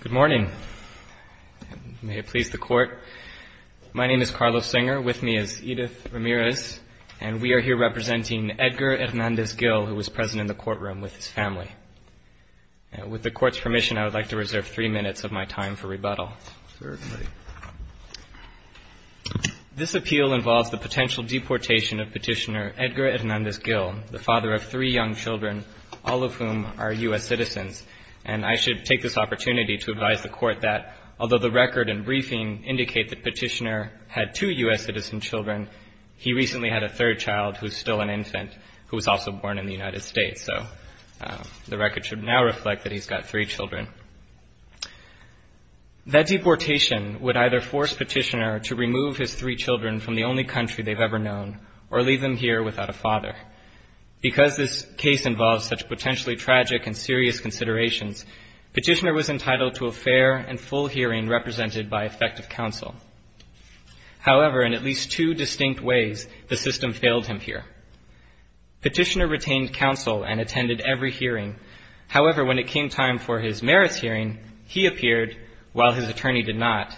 Good morning. May it please the Court, my name is Carlos Singer, with me is Edith Ramirez, and we are here representing Edgar Hernandez-Gil, who was present in the courtroom with his family. With the Court's permission, I would like to reserve three minutes of my time for rebuttal. This appeal involves the potential deportation of Petitioner Edgar Hernandez-Gil, the father of three young children, all of whom are U.S. citizens. And I should take this opportunity to advise the Court that, although the record and briefing indicate that Petitioner had two U.S. citizen children, he recently had a third child, who is still an infant, who was also born in the United States. So the record should now reflect that he's got three children. That deportation would either force Petitioner to remove his three children from the only country they've ever known, or leave them here without a father. Because this case involves such potentially tragic and serious considerations, Petitioner was entitled to a fair and full hearing represented by effective counsel. However, in at least two distinct ways, the system failed him here. Petitioner retained counsel and attended every hearing. However, when it came time for his merits hearing, he appeared while his attorney did not.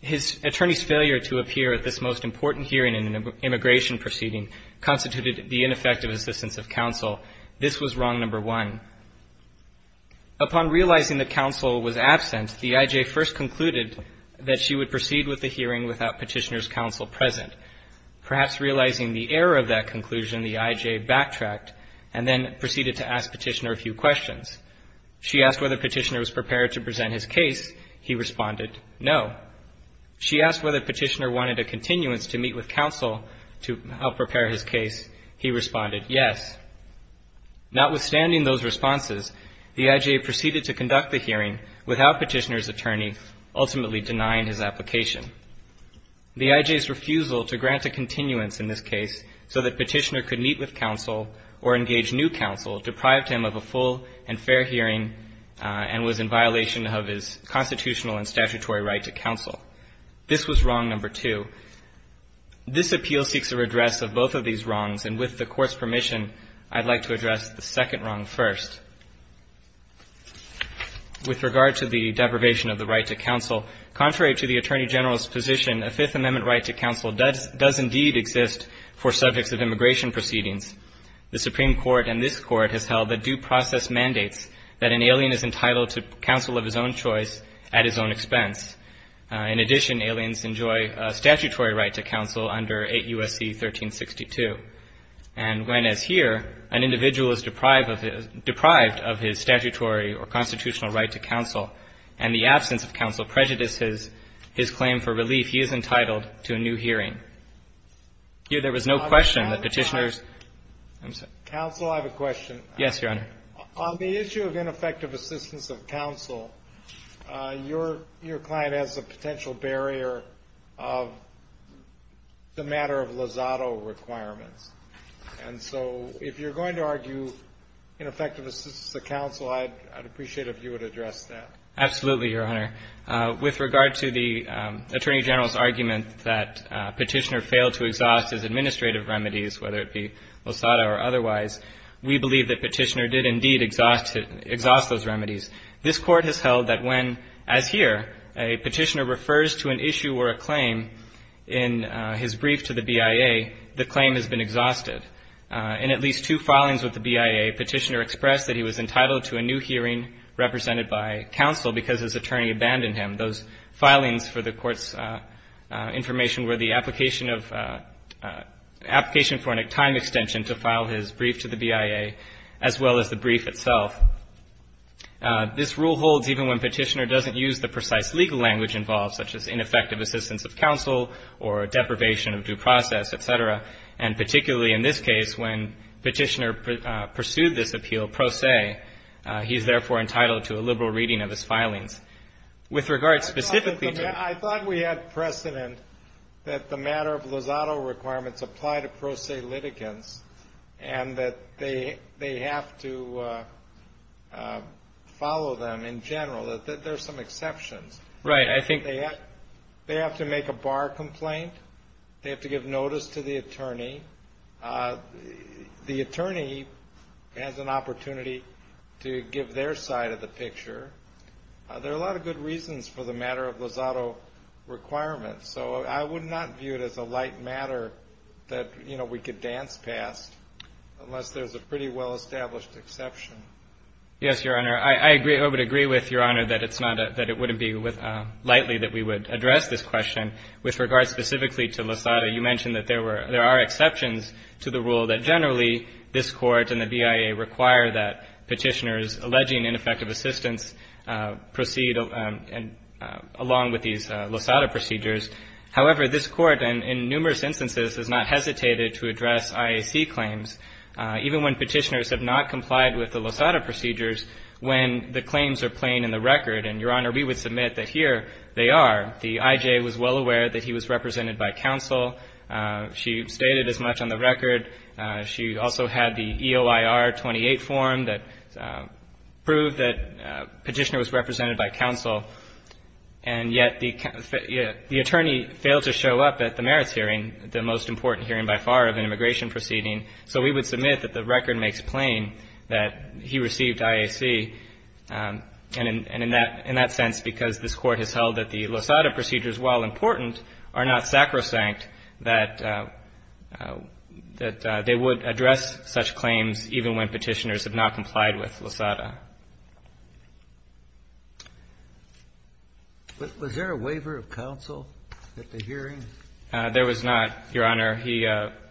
His attorney's failure to appear at this most important hearing in an immigration proceeding constituted the ineffective assistance of counsel. This was wrong number one. Upon realizing that counsel was absent, the I.J. first concluded that she would proceed with the hearing without Petitioner's counsel present. Perhaps realizing the error of that conclusion, the I.J. backtracked and then proceeded to ask Petitioner a few questions. She asked whether Petitioner was prepared to present his case. He responded, no. She asked whether Petitioner wanted a continuance to meet with counsel to help prepare his case. He responded, yes. Notwithstanding those responses, the I.J. proceeded to conduct the hearing without Petitioner's attorney ultimately denying his application. The I.J.'s refusal to grant a continuance in this case so that Petitioner could meet with counsel or engage new counsel deprived him of a full and fair hearing and was in violation of his constitutional and statutory right to counsel. This was wrong number two. This appeal seeks a redress of both of these wrongs, and with the Court's permission, I'd like to address the second wrong first. With regard to the deprivation of the right to counsel, contrary to the Attorney General's position, a Fifth Amendment right to counsel does indeed exist for subjects of immigration proceedings. The Supreme Court and this Court has held that due process mandates that an alien is entitled to counsel of his own choice at his own expense. In addition, aliens enjoy a statutory right to counsel under 8 U.S.C. 1362. And when, as here, an individual is deprived of his statutory or constitutional right to counsel and the absence of counsel prejudices his claim for relief, he is entitled to a new hearing. Here there was no question that Petitioner's — Counsel, I have a question. Yes, Your Honor. On the issue of ineffective assistance of counsel, your client has a potential barrier of the matter of Lozado requirements. And so if you're going to argue ineffective assistance of counsel, I'd appreciate it if you would address that. Absolutely, Your Honor. With regard to the Attorney General's argument that Petitioner failed to exhaust his administrative remedies, whether it be Lozado or otherwise, we believe that Petitioner did indeed exhaust those remedies. This Court has held that when, as here, a petitioner refers to an issue or a claim in his brief to the BIA, the claim has been exhausted. In at least two filings with the BIA, Petitioner expressed that he was entitled to a new hearing represented by counsel because his attorney abandoned him. And those filings for the Court's information were the application of — application for a time extension to file his brief to the BIA, as well as the brief itself. This rule holds even when Petitioner doesn't use the precise legal language involved, such as ineffective assistance of counsel or deprivation of due process, et cetera. And particularly in this case, when Petitioner pursued this appeal pro se, he is therefore entitled to a liberal reading of his filings. With regard specifically to — I thought we had precedent that the matter of Lozado requirements apply to pro se litigants and that they have to follow them in general. There are some exceptions. Right. I think — They have to make a bar complaint. They have to give notice to the attorney. The attorney has an opportunity to give their side of the picture. There are a lot of good reasons for the matter of Lozado requirements. So I would not view it as a light matter that, you know, we could dance past unless there's a pretty well-established exception. Yes, Your Honor. I agree — I would agree with Your Honor that it's not — that it wouldn't be lightly that we would address this question. With regard specifically to Lozado, you mentioned that there were — there are exceptions to the rule that generally this Court and the BIA require that petitioners alleging ineffective assistance proceed along with these Lozado procedures. However, this Court in numerous instances has not hesitated to address IAC claims, even when petitioners have not complied with the Lozado procedures when the claims are plain in the record. And, Your Honor, we would submit that here they are. The IJ was well aware that he was represented by counsel. She stated as much on the record. She also had the EOIR-28 form that proved that petitioner was represented by counsel. And yet the attorney failed to show up at the merits hearing, the most important hearing by far of an immigration proceeding. So we would submit that the record makes plain that he received IAC. And in that sense, because this Court has held that the Lozado procedures, while important, are not sacrosanct, that — that they would address such claims even when petitioners have not complied with Lozado. Sotomayor was there a waiver of counsel at the hearing? There was not, Your Honor. He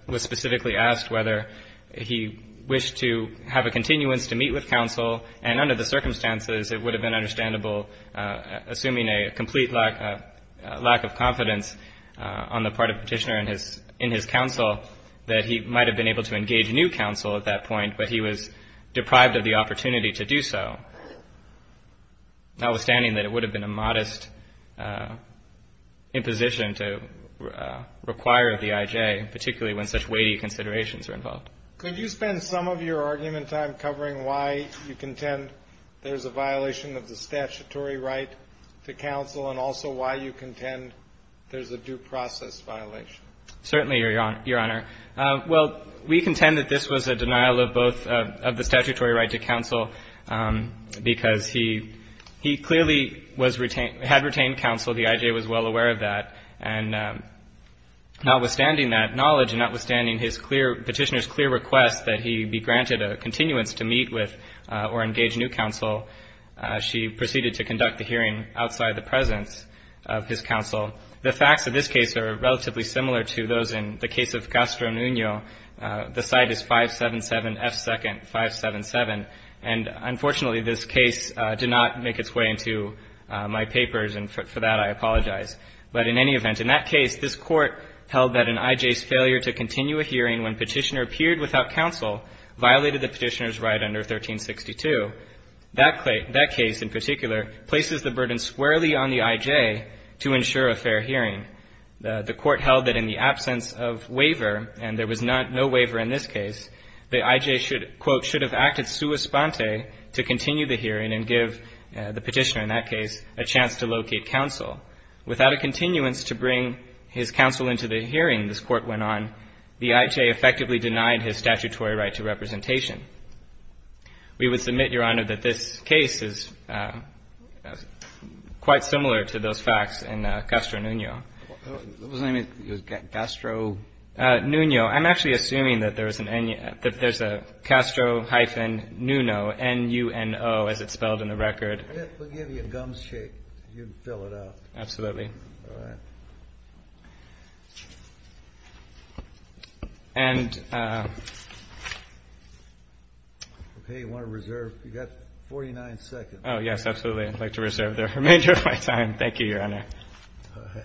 was specifically asked whether he wished to have a continuance to meet with counsel. And under the circumstances, it would have been understandable, assuming a complete lack of confidence on the part of petitioner in his — in his counsel, that he might have been able to engage new counsel at that point, but he was deprived of the opportunity to do so, notwithstanding that it would have been a modest imposition to require the IJ, particularly when such weighty considerations were involved. Could you spend some of your argument time covering why you contend there's a violation of the statutory right to counsel, and also why you contend there's a due process violation? Certainly, Your Honor. Well, we contend that this was a denial of both — of the statutory right to counsel, because he — he clearly was — had retained counsel. The IJ was well aware of that. And notwithstanding that knowledge, and notwithstanding his clear — petitioner's clear request that he be granted a continuance to meet with or engage new counsel, she proceeded to conduct the hearing outside the presence of his counsel. The facts of this case are relatively similar to those in the case of Castro-Nuno. The side is 577 F. 2nd. 577. And unfortunately, this case did not make its way into my papers, and for that, I apologize. But in any event, in that case, this Court held that an IJ's failure to continue a hearing when petitioner appeared without counsel violated the petitioner's right under 1362. That case in particular places the burden squarely on the IJ to ensure a fair hearing. The Court held that in the absence of waiver, and there was no waiver in this case, the IJ should, quote, should have acted sua sponte to continue the hearing and give the petitioner, in that case, a chance to locate counsel. Without a continuance to bring his counsel into the hearing this Court went on, the IJ effectively denied his statutory right to representation. We would submit, Your Honor, that this case is quite similar to those facts in Castro-Nuno. Kennedy. What was the name? It was Castro? Shaheen. Nuno. I'm actually assuming that there's a Castro-Nuno, N-U-N-O, as it's spelled in the record. Kennedy. We'll give you a gumshake. You can fill it out. Absolutely. All right. And... Okay. You want to reserve? You've got 49 seconds. Oh, yes. Absolutely. I'd like to reserve the remainder of my time. Thank you, Your Honor. All right.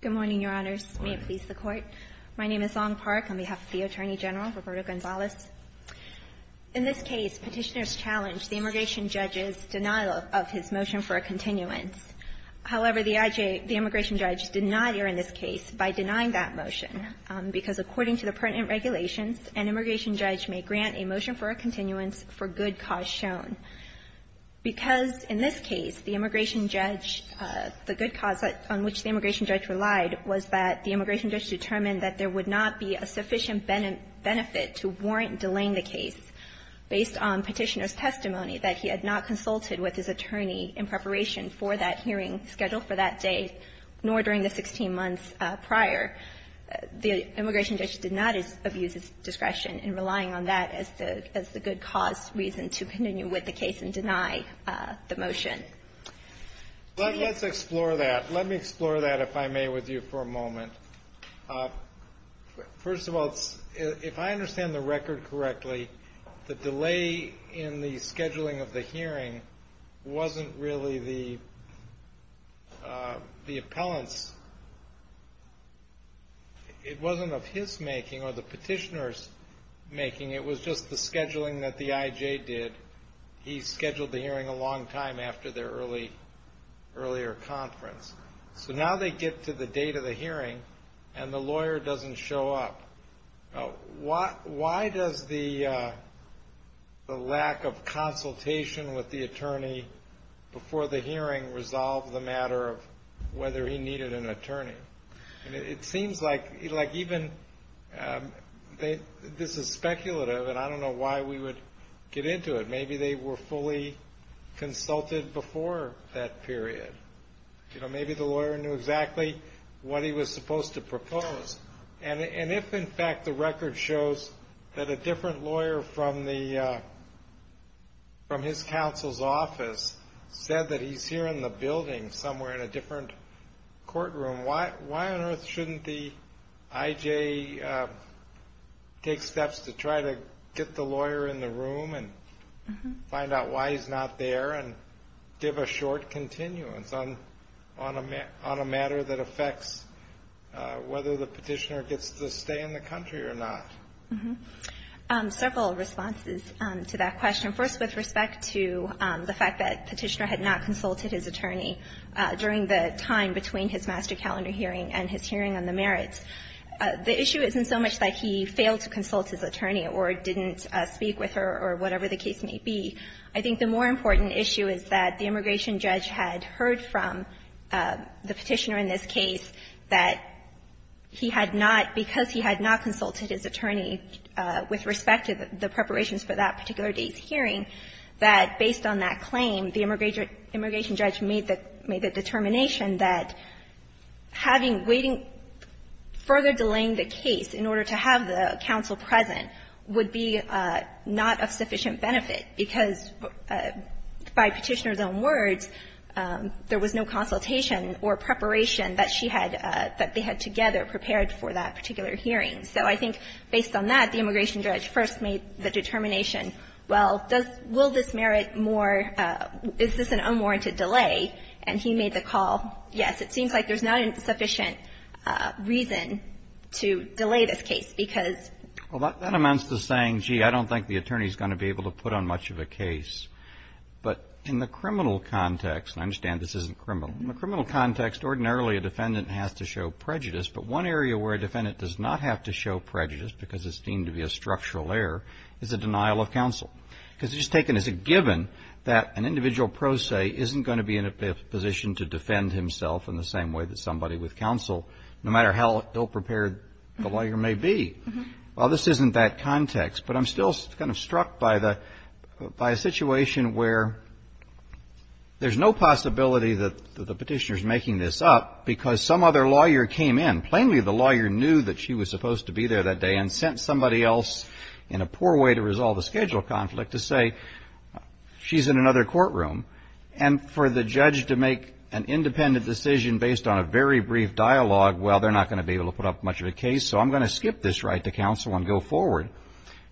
Good morning, Your Honor. Good morning, Your Honors. May it please the Court. My name is Long Park on behalf of the Attorney General, Roberto Gonzalez. In this case, Petitioners challenged the immigration judge's denial of his motion for a continuance. However, the IJ, the immigration judge did not err in this case by denying that motion, because according to the pertinent regulations, an immigration judge may grant a motion for a continuance for good cause shown. Because in this case, the immigration judge, the good cause on which the immigration judge relied was that the immigration judge determined that there would not be a sufficient benefit to warrant delaying the case based on Petitioner's testimony that he had not consulted with his attorney in preparation for that hearing scheduled for that day, nor during the 16 months prior, the immigration judge did not abuse his discretion in relying on that as the good cause reason to continue with the case and deny the motion. Let's explore that. Let me explore that, if I may, with you for a moment. First of all, if I understand the record correctly, the delay in the scheduling of the hearing wasn't really the appellant's. It wasn't of his making or the petitioner's making. It was just the scheduling that the IJ did. He scheduled the hearing a long time after their earlier conference. Now they get to the date of the hearing, and the lawyer doesn't show up. Why does the lack of consultation with the attorney before the hearing resolve the matter of whether he needed an attorney? It seems like even this is speculative, and I don't know why we would get into it. Maybe they were fully consulted before that period. Maybe the lawyer knew exactly what he was supposed to propose. If, in fact, the record shows that a different lawyer from his counsel's office said that he's here in the building somewhere in a different courtroom, why on earth shouldn't the IJ take steps to try to get the lawyer in the room and find out why he's not there and give a short continuance on a matter that affects whether the petitioner gets to stay in the country or not? Several responses to that question. First, with respect to the fact that Petitioner had not consulted his attorney during the time between his master calendar hearing and his hearing on the merits, the issue isn't so much that he failed to consult his attorney or didn't speak with her or whatever the case may be. I think the more important issue is that the immigration judge had heard from the Petitioner in this case that he had not, because he had not consulted his attorney with respect to the preparations for that particular day's hearing, that based on that claim, the immigration judge made the determination that having waiting, further delaying the case in order to have the counsel present would be not of sufficient benefit, because by Petitioner's own words, there was no consultation or preparation that she had, that they had together prepared for that particular hearing. So I think based on that, the immigration judge first made the determination, well, does this merit more, is this an unwarranted delay, and he made the call, yes, it seems like there's not a sufficient reason to delay this case, because of that. Well, that amounts to saying, gee, I don't think the attorney is going to be able to put on much of a case. But in the criminal context, and I understand this isn't criminal, in the criminal context, ordinarily a defendant has to show prejudice, but one area where a defendant does not have to show prejudice because it's deemed to be a structural error is a denial of counsel. Because it's just taken as a given that an individual pro se isn't going to be in a position to defend himself in the same way that somebody with counsel, no matter how ill-prepared the lawyer may be. Well, this isn't that context, but I'm still kind of struck by the — by a situation where there's no possibility that the Petitioner's making this up because some other lawyer came in, plainly the lawyer knew that she was supposed to be there that day, and sent somebody else in a poor way to resolve the schedule conflict to say she's in another courtroom. And for the judge to make an independent decision based on a very brief dialogue, well, they're not going to be able to put up much of a case, so I'm going to skip this right to counsel and go forward.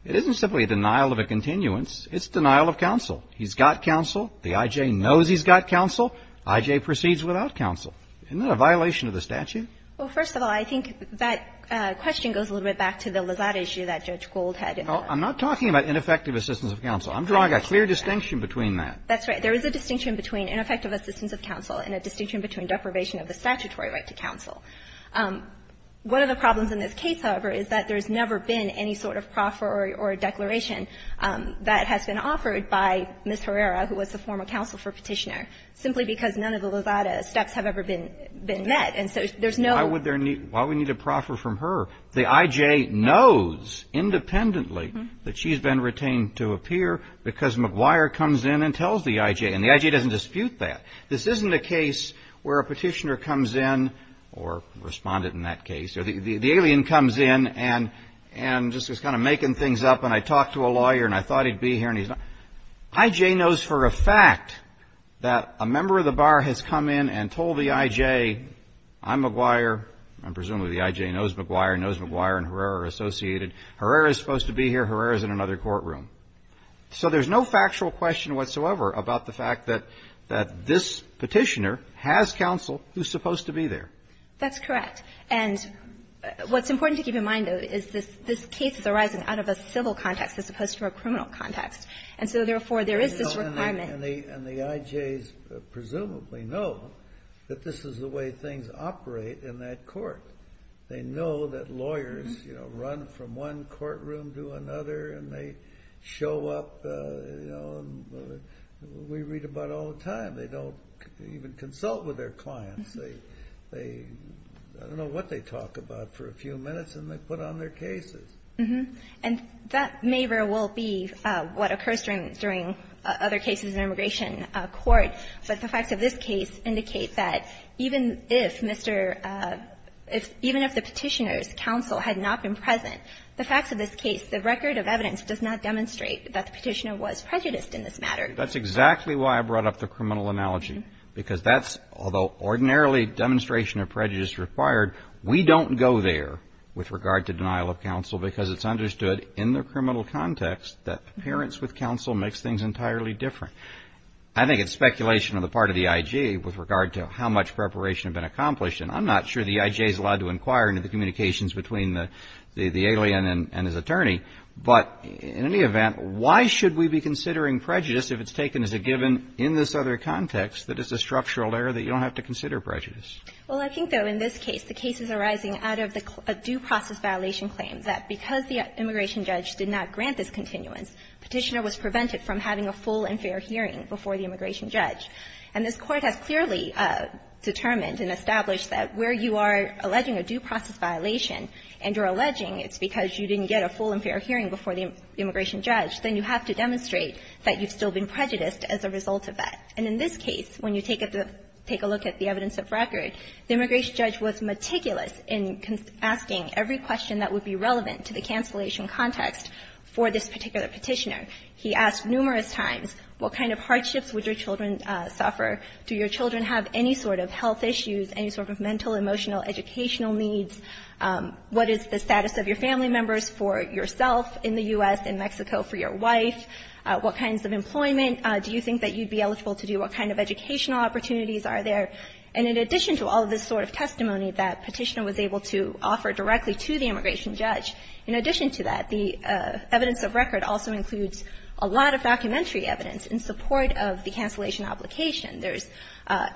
It isn't simply a denial of a continuance. It's denial of counsel. He's got counsel. The I.J. knows he's got counsel. I.J. proceeds without counsel. Isn't that a violation of the statute? Well, first of all, I think that question goes a little bit back to the Lozada issue that Judge Gold had in there. I'm not talking about ineffective assistance of counsel. I'm drawing a clear distinction between that. That's right. There is a distinction between ineffective assistance of counsel and a distinction between deprivation of the statutory right to counsel. One of the problems in this case, however, is that there's never been any sort of proffer or declaration that has been offered by Ms. Herrera, who was the former counsel for Petitioner, simply because none of the Lozada steps have ever been met. And so there's no – Why would there need – why would we need a proffer from her? The I.J. knows independently that she's been retained to appear because McGuire comes in and tells the I.J. And the I.J. doesn't dispute that. This isn't a case where a Petitioner comes in, or responded in that case, or the alien comes in and just is kind of making things up, and I talked to a lawyer and I thought he'd be here and he's not. I.J. knows for a fact that a member of the bar has come in and told the I.J., I'm McGuire, and presumably the I.J. knows McGuire, knows McGuire and Herrera are associated. Herrera is supposed to be here. Herrera is in another courtroom. So there's no factual question whatsoever about the fact that this Petitioner has counsel who's supposed to be there. That's correct. And what's important to keep in mind, though, is this case is arising out of a civil context as opposed to a criminal context. And so, therefore, there is this requirement. And the I.J.'s presumably know that this is the way things operate in that court. They know that lawyers run from one courtroom to another and they show up. We read about it all the time. They don't even consult with their clients. I don't know what they talk about for a few minutes, and they put on their cases. And that may or will be what occurs during other cases in immigration court. But the facts of this case indicate that even if Mr. — even if the Petitioner's counsel had not been present, the facts of this case, the record of evidence does not demonstrate that the Petitioner was prejudiced in this matter. That's exactly why I brought up the criminal analogy, because that's — although ordinarily demonstration of prejudice is required, we don't go there with regard to denial of counsel because it's understood in the criminal context that appearance with counsel makes things entirely different. I think it's speculation on the part of the I.J. with regard to how much preparation had been accomplished. And I'm not sure the I.J.'s allowed to inquire into the communications between the alien and his attorney. But in any event, why should we be considering prejudice if it's taken as a given in this other context that it's a structural error that you don't have to consider prejudice? Well, I think, though, in this case, the case is arising out of the due process violation claim that because the immigration judge did not grant this continuance, Petitioner was prevented from having a full and fair hearing before the immigration judge. And this Court has clearly determined and established that where you are alleging a due process violation and you're alleging it's because you didn't get a full and fair hearing before the immigration judge, then you have to demonstrate that you've still been prejudiced as a result of that. And in this case, when you take a look at the evidence of record, the immigration judge was meticulous in asking every question that would be relevant to the cancellation context for this particular Petitioner. He asked numerous times, what kind of hardships would your children suffer? Do your children have any sort of health issues, any sort of mental, emotional, educational needs? What is the status of your family members for yourself in the U.S. and Mexico for your wife? What kinds of employment? Do you think that you'd be eligible to do? What kind of educational opportunities are there? And in addition to all of this sort of testimony that Petitioner was able to offer directly to the immigration judge, in addition to that, the evidence of record also includes a lot of documentary evidence in support of the cancellation obligation. There's,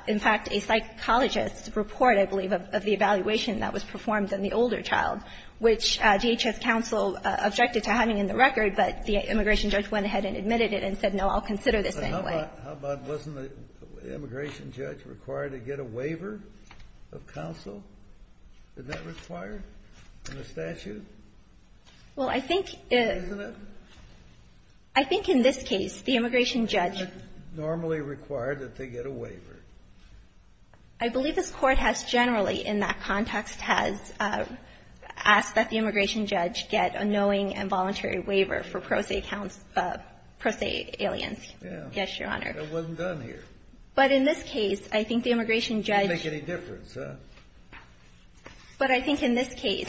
in fact, a psychologist's report, I believe, of the evaluation that was performed on the older child, which DHS counsel objected to having in the record, but the immigration judge went ahead and admitted it and said, no, I'll consider this anyway. Kennedy. But how about wasn't the immigration judge required to get a waiver of counsel? Isn't that required in the statute? Well, I think it isn't. Isn't it? I think in this case, the immigration judge. Isn't it normally required that they get a waiver? I believe this Court has generally in that context has asked that the immigration judge get a knowing and voluntary waiver for pro se aliens. Yes, Your Honor. It wasn't done here. But in this case, I think the immigration judge. It didn't make any difference, huh? But I think in this case,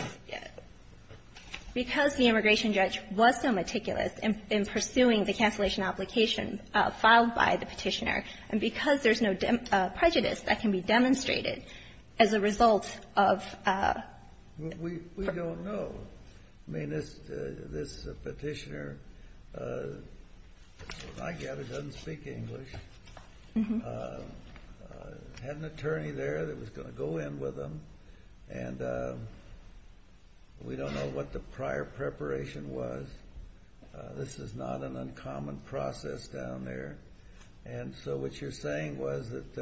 because the immigration judge was so meticulous in pursuing the cancellation obligation filed by the Petitioner, and because there's no prejudice that can be demonstrated as a result of. We don't know. I mean, this Petitioner, I get it, doesn't speak English. Had an attorney there that was going to go in with him. And we don't know what the prior preparation was. This is not an uncommon process down there. And so what you're saying was that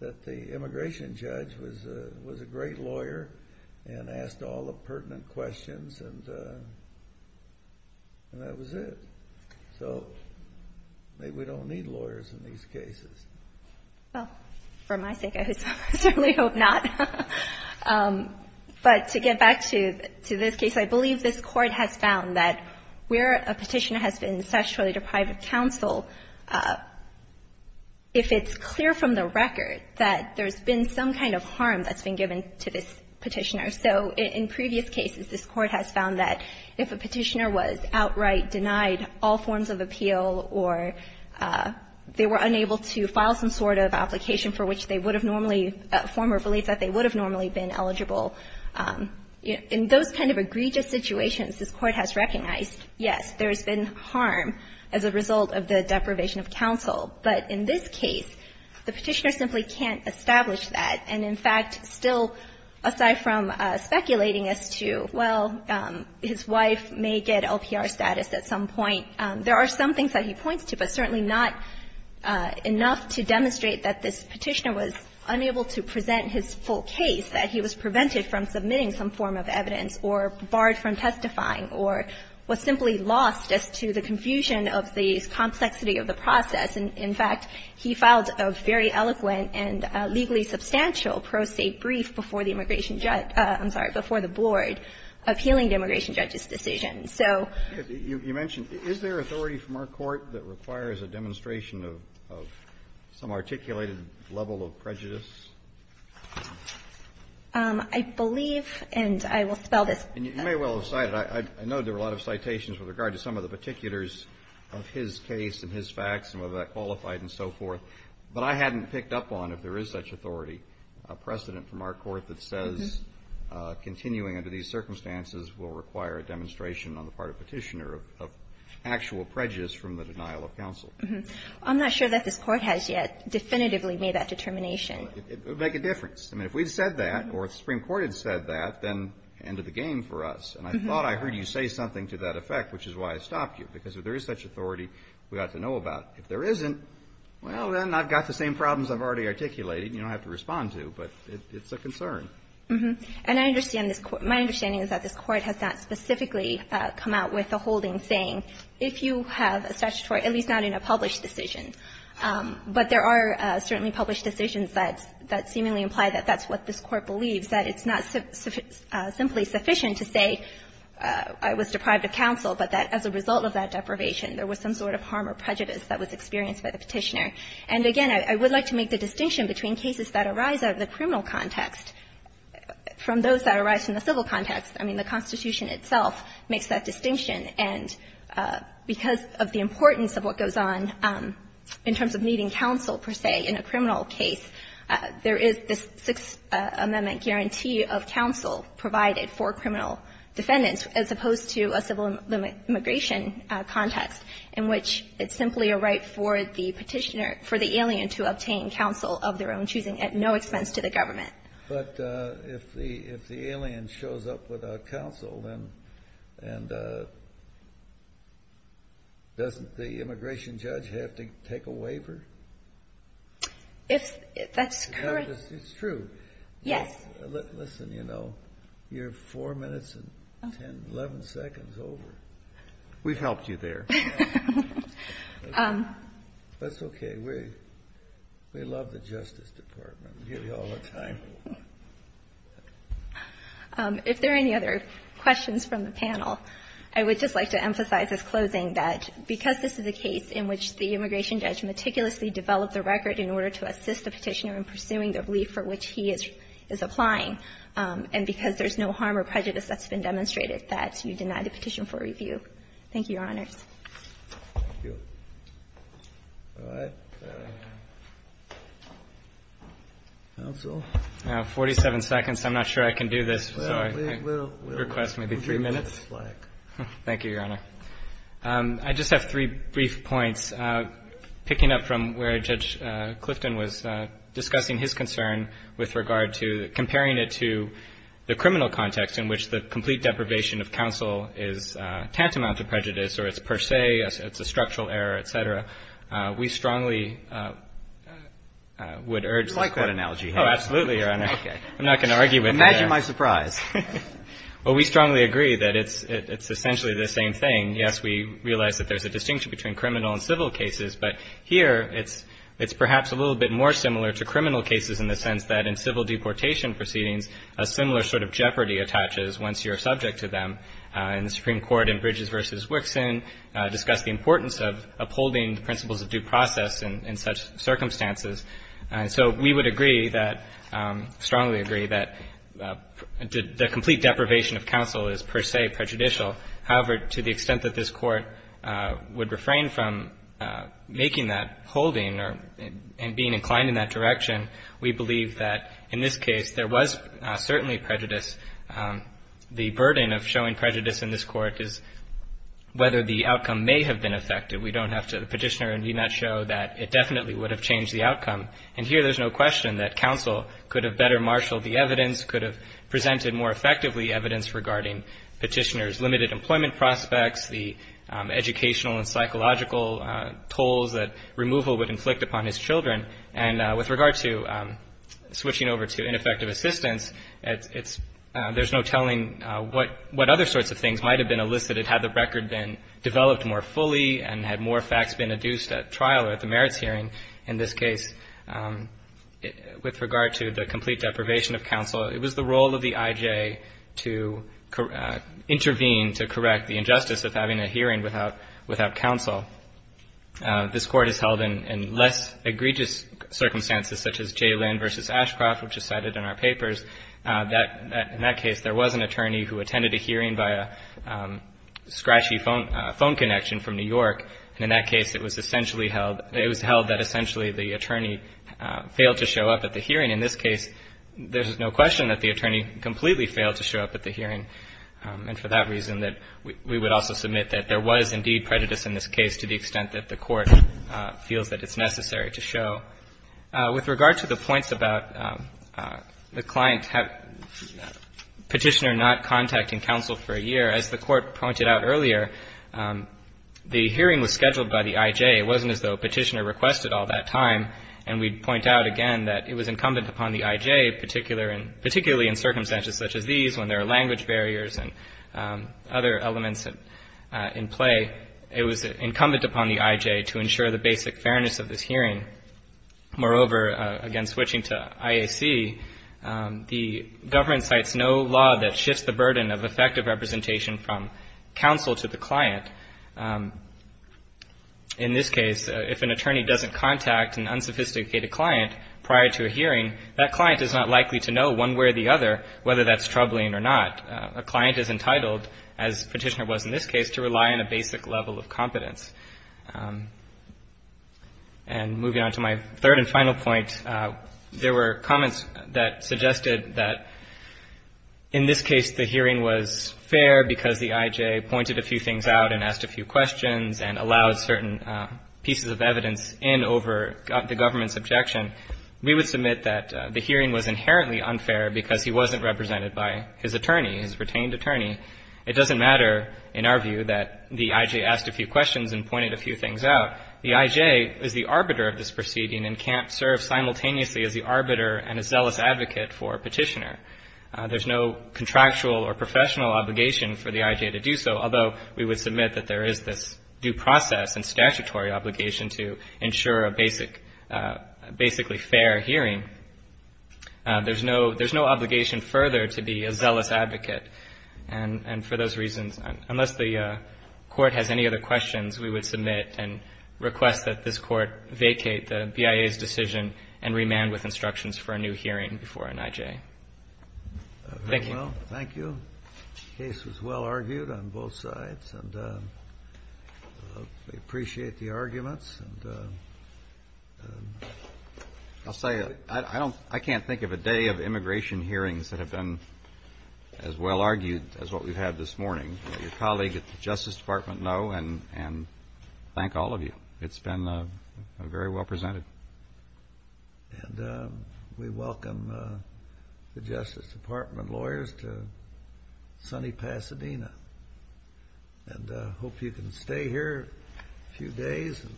the immigration judge was a great lawyer and asked all the pertinent questions, and that was it. So maybe we don't need lawyers in these cases. Well, for my sake, I certainly hope not. But to get back to this case, I believe this Court has found that where a Petitioner has been sexually deprived of counsel, if it's clear from the record that there's been some kind of harm that's been given to this Petitioner. So in previous cases, this Court has found that if a Petitioner was outright denied all forms of appeal or they were unable to file some sort of application for which they would have normally been eligible, in those kind of egregious situations, this Court has recognized, yes, there's been harm as a result of the deprivation of counsel. But in this case, the Petitioner simply can't establish that. And in fact, still, aside from speculating as to, well, his wife may get LPR status at some point, there are some things that he points to, but certainly not enough to demonstrate that this Petitioner was unable to present his full case, that he was absent from testifying, or was simply lost as to the confusion of the complexity of the process. In fact, he filed a very eloquent and legally substantial pro se brief before the Immigration Judge – I'm sorry, before the Board appealing to Immigration Judges' decisions. So you mentioned, is there authority from our Court that requires a demonstration of some articulated level of prejudice? I believe, and I will spell this. And you may well have cited, I know there are a lot of citations with regard to some of the particulars of his case and his facts and whether that qualified and so forth, but I hadn't picked up on if there is such authority, a precedent from our Court that says continuing under these circumstances will require a demonstration on the part of Petitioner of actual prejudice from the denial of counsel. I'm not sure that this Court has yet definitively made that determination. It would make a difference. I mean, if we'd said that or if the Supreme Court had said that, then end of the game for us. And I thought I heard you say something to that effect, which is why I stopped you, because if there is such authority, we ought to know about it. If there isn't, well, then I've got the same problems I've already articulated and you don't have to respond to, but it's a concern. And I understand this – my understanding is that this Court has not specifically come out with a holding saying, if you have a statutory – at least not in a published decision. But there are certainly published decisions that seemingly imply that that's what this Court believes, that it's not simply sufficient to say I was deprived of counsel, but that as a result of that deprivation there was some sort of harm or prejudice that was experienced by the Petitioner. And again, I would like to make the distinction between cases that arise out of the criminal context from those that arise in the civil context. I mean, the Constitution itself makes that distinction. And because of the importance of what goes on in terms of needing counsel, per se, in a criminal case, there is this Sixth Amendment guarantee of counsel provided for criminal defendants, as opposed to a civil immigration context in which it's simply a right for the Petitioner – for the alien to obtain counsel of their own choosing at no expense to the government. But if the alien shows up without counsel, then – and doesn't the immigration judge have to take a waiver? If – that's correct. It's true. Yes. Listen, you know, you're 4 minutes and 10 – 11 seconds over. We've helped you there. That's okay. We love the Justice Department. We give you all the time. If there are any other questions from the panel, I would just like to emphasize as closing that because this is a case in which the immigration judge meticulously developed the record in order to assist the Petitioner in pursuing the belief for which he is applying, and because there's no harm or prejudice that's been demonstrated, that you deny the petition for review. Thank you, Your Honors. Thank you. All right. Counsel? I have 47 seconds. I'm not sure I can do this, so I request maybe 3 minutes. Thank you, Your Honor. I just have three brief points, picking up from where Judge Clifton was discussing the Petitioner's claim that it's a structural error, et cetera, we strongly would urge You like that analogy, don't you? Oh, absolutely, Your Honor. Okay. I'm not going to argue with you there. Imagine my surprise. Well, we strongly agree that it's essentially the same thing. Yes, we realize that there's a distinction between criminal and civil cases, but here it's perhaps a little bit more similar to criminal cases in the sense that in civil deportation proceedings, a similar sort of jeopardy attaches once you're subject to them. And the Supreme Court in Bridges v. Wixson discussed the importance of upholding the principles of due process in such circumstances. So we would agree that, strongly agree, that the complete deprivation of counsel is, per se, prejudicial. However, to the extent that this Court would refrain from making that holding and being inclined in that direction, we believe that in this case there was certainly prejudice. The burden of showing prejudice in this Court is whether the outcome may have been effective. We don't have to petitioner and do not show that it definitely would have changed the outcome. And here there's no question that counsel could have better marshaled the evidence, could have presented more effectively evidence regarding petitioner's limited employment prospects, the educational and psychological tolls that removal would inflict upon his children. And with regard to switching over to ineffective assistance, it's – there's no telling what other sorts of things might have been elicited had the record been developed more fully and had more facts been adduced at trial or at the merits hearing. In this case, with regard to the complete deprivation of counsel, it was the role of the I.J. to intervene to correct the injustice of having a hearing without counsel. This Court has held in less egregious circumstances, such as J. Lynn v. Ashcroft, which is cited in our papers, that in that case there was an attorney who attended a hearing by a scratchy phone connection from New York, and in that case it was essentially held – it was held that essentially the attorney failed to show up at the hearing. In this case, there's no question that the attorney completely failed to show up at the hearing. And for that reason, we would also submit that there was indeed prejudice in this case to the extent that the Court feels that it's necessary to show. With regard to the points about the client have Petitioner not contacting counsel for a year, as the Court pointed out earlier, the hearing was scheduled by the I.J. It wasn't as though Petitioner requested all that time. And we'd point out again that it was incumbent upon the I.J., particularly in circumstances such as these, when there are language barriers and other elements in play. It was incumbent upon the I.J. to ensure the basic fairness of this hearing. Moreover, again, switching to IAC, the government cites no law that shifts the burden of effective representation from counsel to the client. In this case, if an attorney doesn't contact an unsophisticated client prior to a hearing, that client is not likely to know one way or the other whether that's troubling or not. A client is entitled, as Petitioner was in this case, to rely on a basic level of competence. And moving on to my third and final point, there were comments that suggested that in this case the hearing was fair because the I.J. pointed a few things out and asked a few questions and allowed certain pieces of evidence in over the government's objection. We would submit that the hearing was inherently unfair because he wasn't represented by his attorney, his retained attorney. It doesn't matter in our view that the I.J. asked a few questions and pointed a few things out. The I.J. is the arbiter of this proceeding and can't serve simultaneously as the arbiter and a zealous advocate for Petitioner. There's no contractual or professional obligation for the I.J. to do so, although we would submit that there is this due process and statutory obligation to ensure a basic, basically fair hearing. There's no obligation further to be a zealous advocate. And for those reasons, unless the Court has any other questions, we would submit and request that this Court vacate the BIA's decision and remand with instructions for a new hearing before an I.J. Thank you. Thank you. The case was well argued on both sides, and we appreciate the arguments. And I'll say, I can't think of a day of immigration hearings that have been as well argued as what we've had this morning. Let your colleague at the Justice Department know and thank all of you. It's been very well presented. And we welcome the Justice Department lawyers to sunny Pasadena. And I hope you can stay here a few days and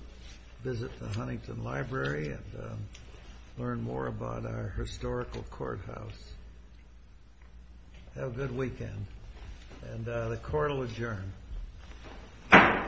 visit the Huntington Library and learn more about our historical courthouse. Have a good weekend. And the Court will adjourn.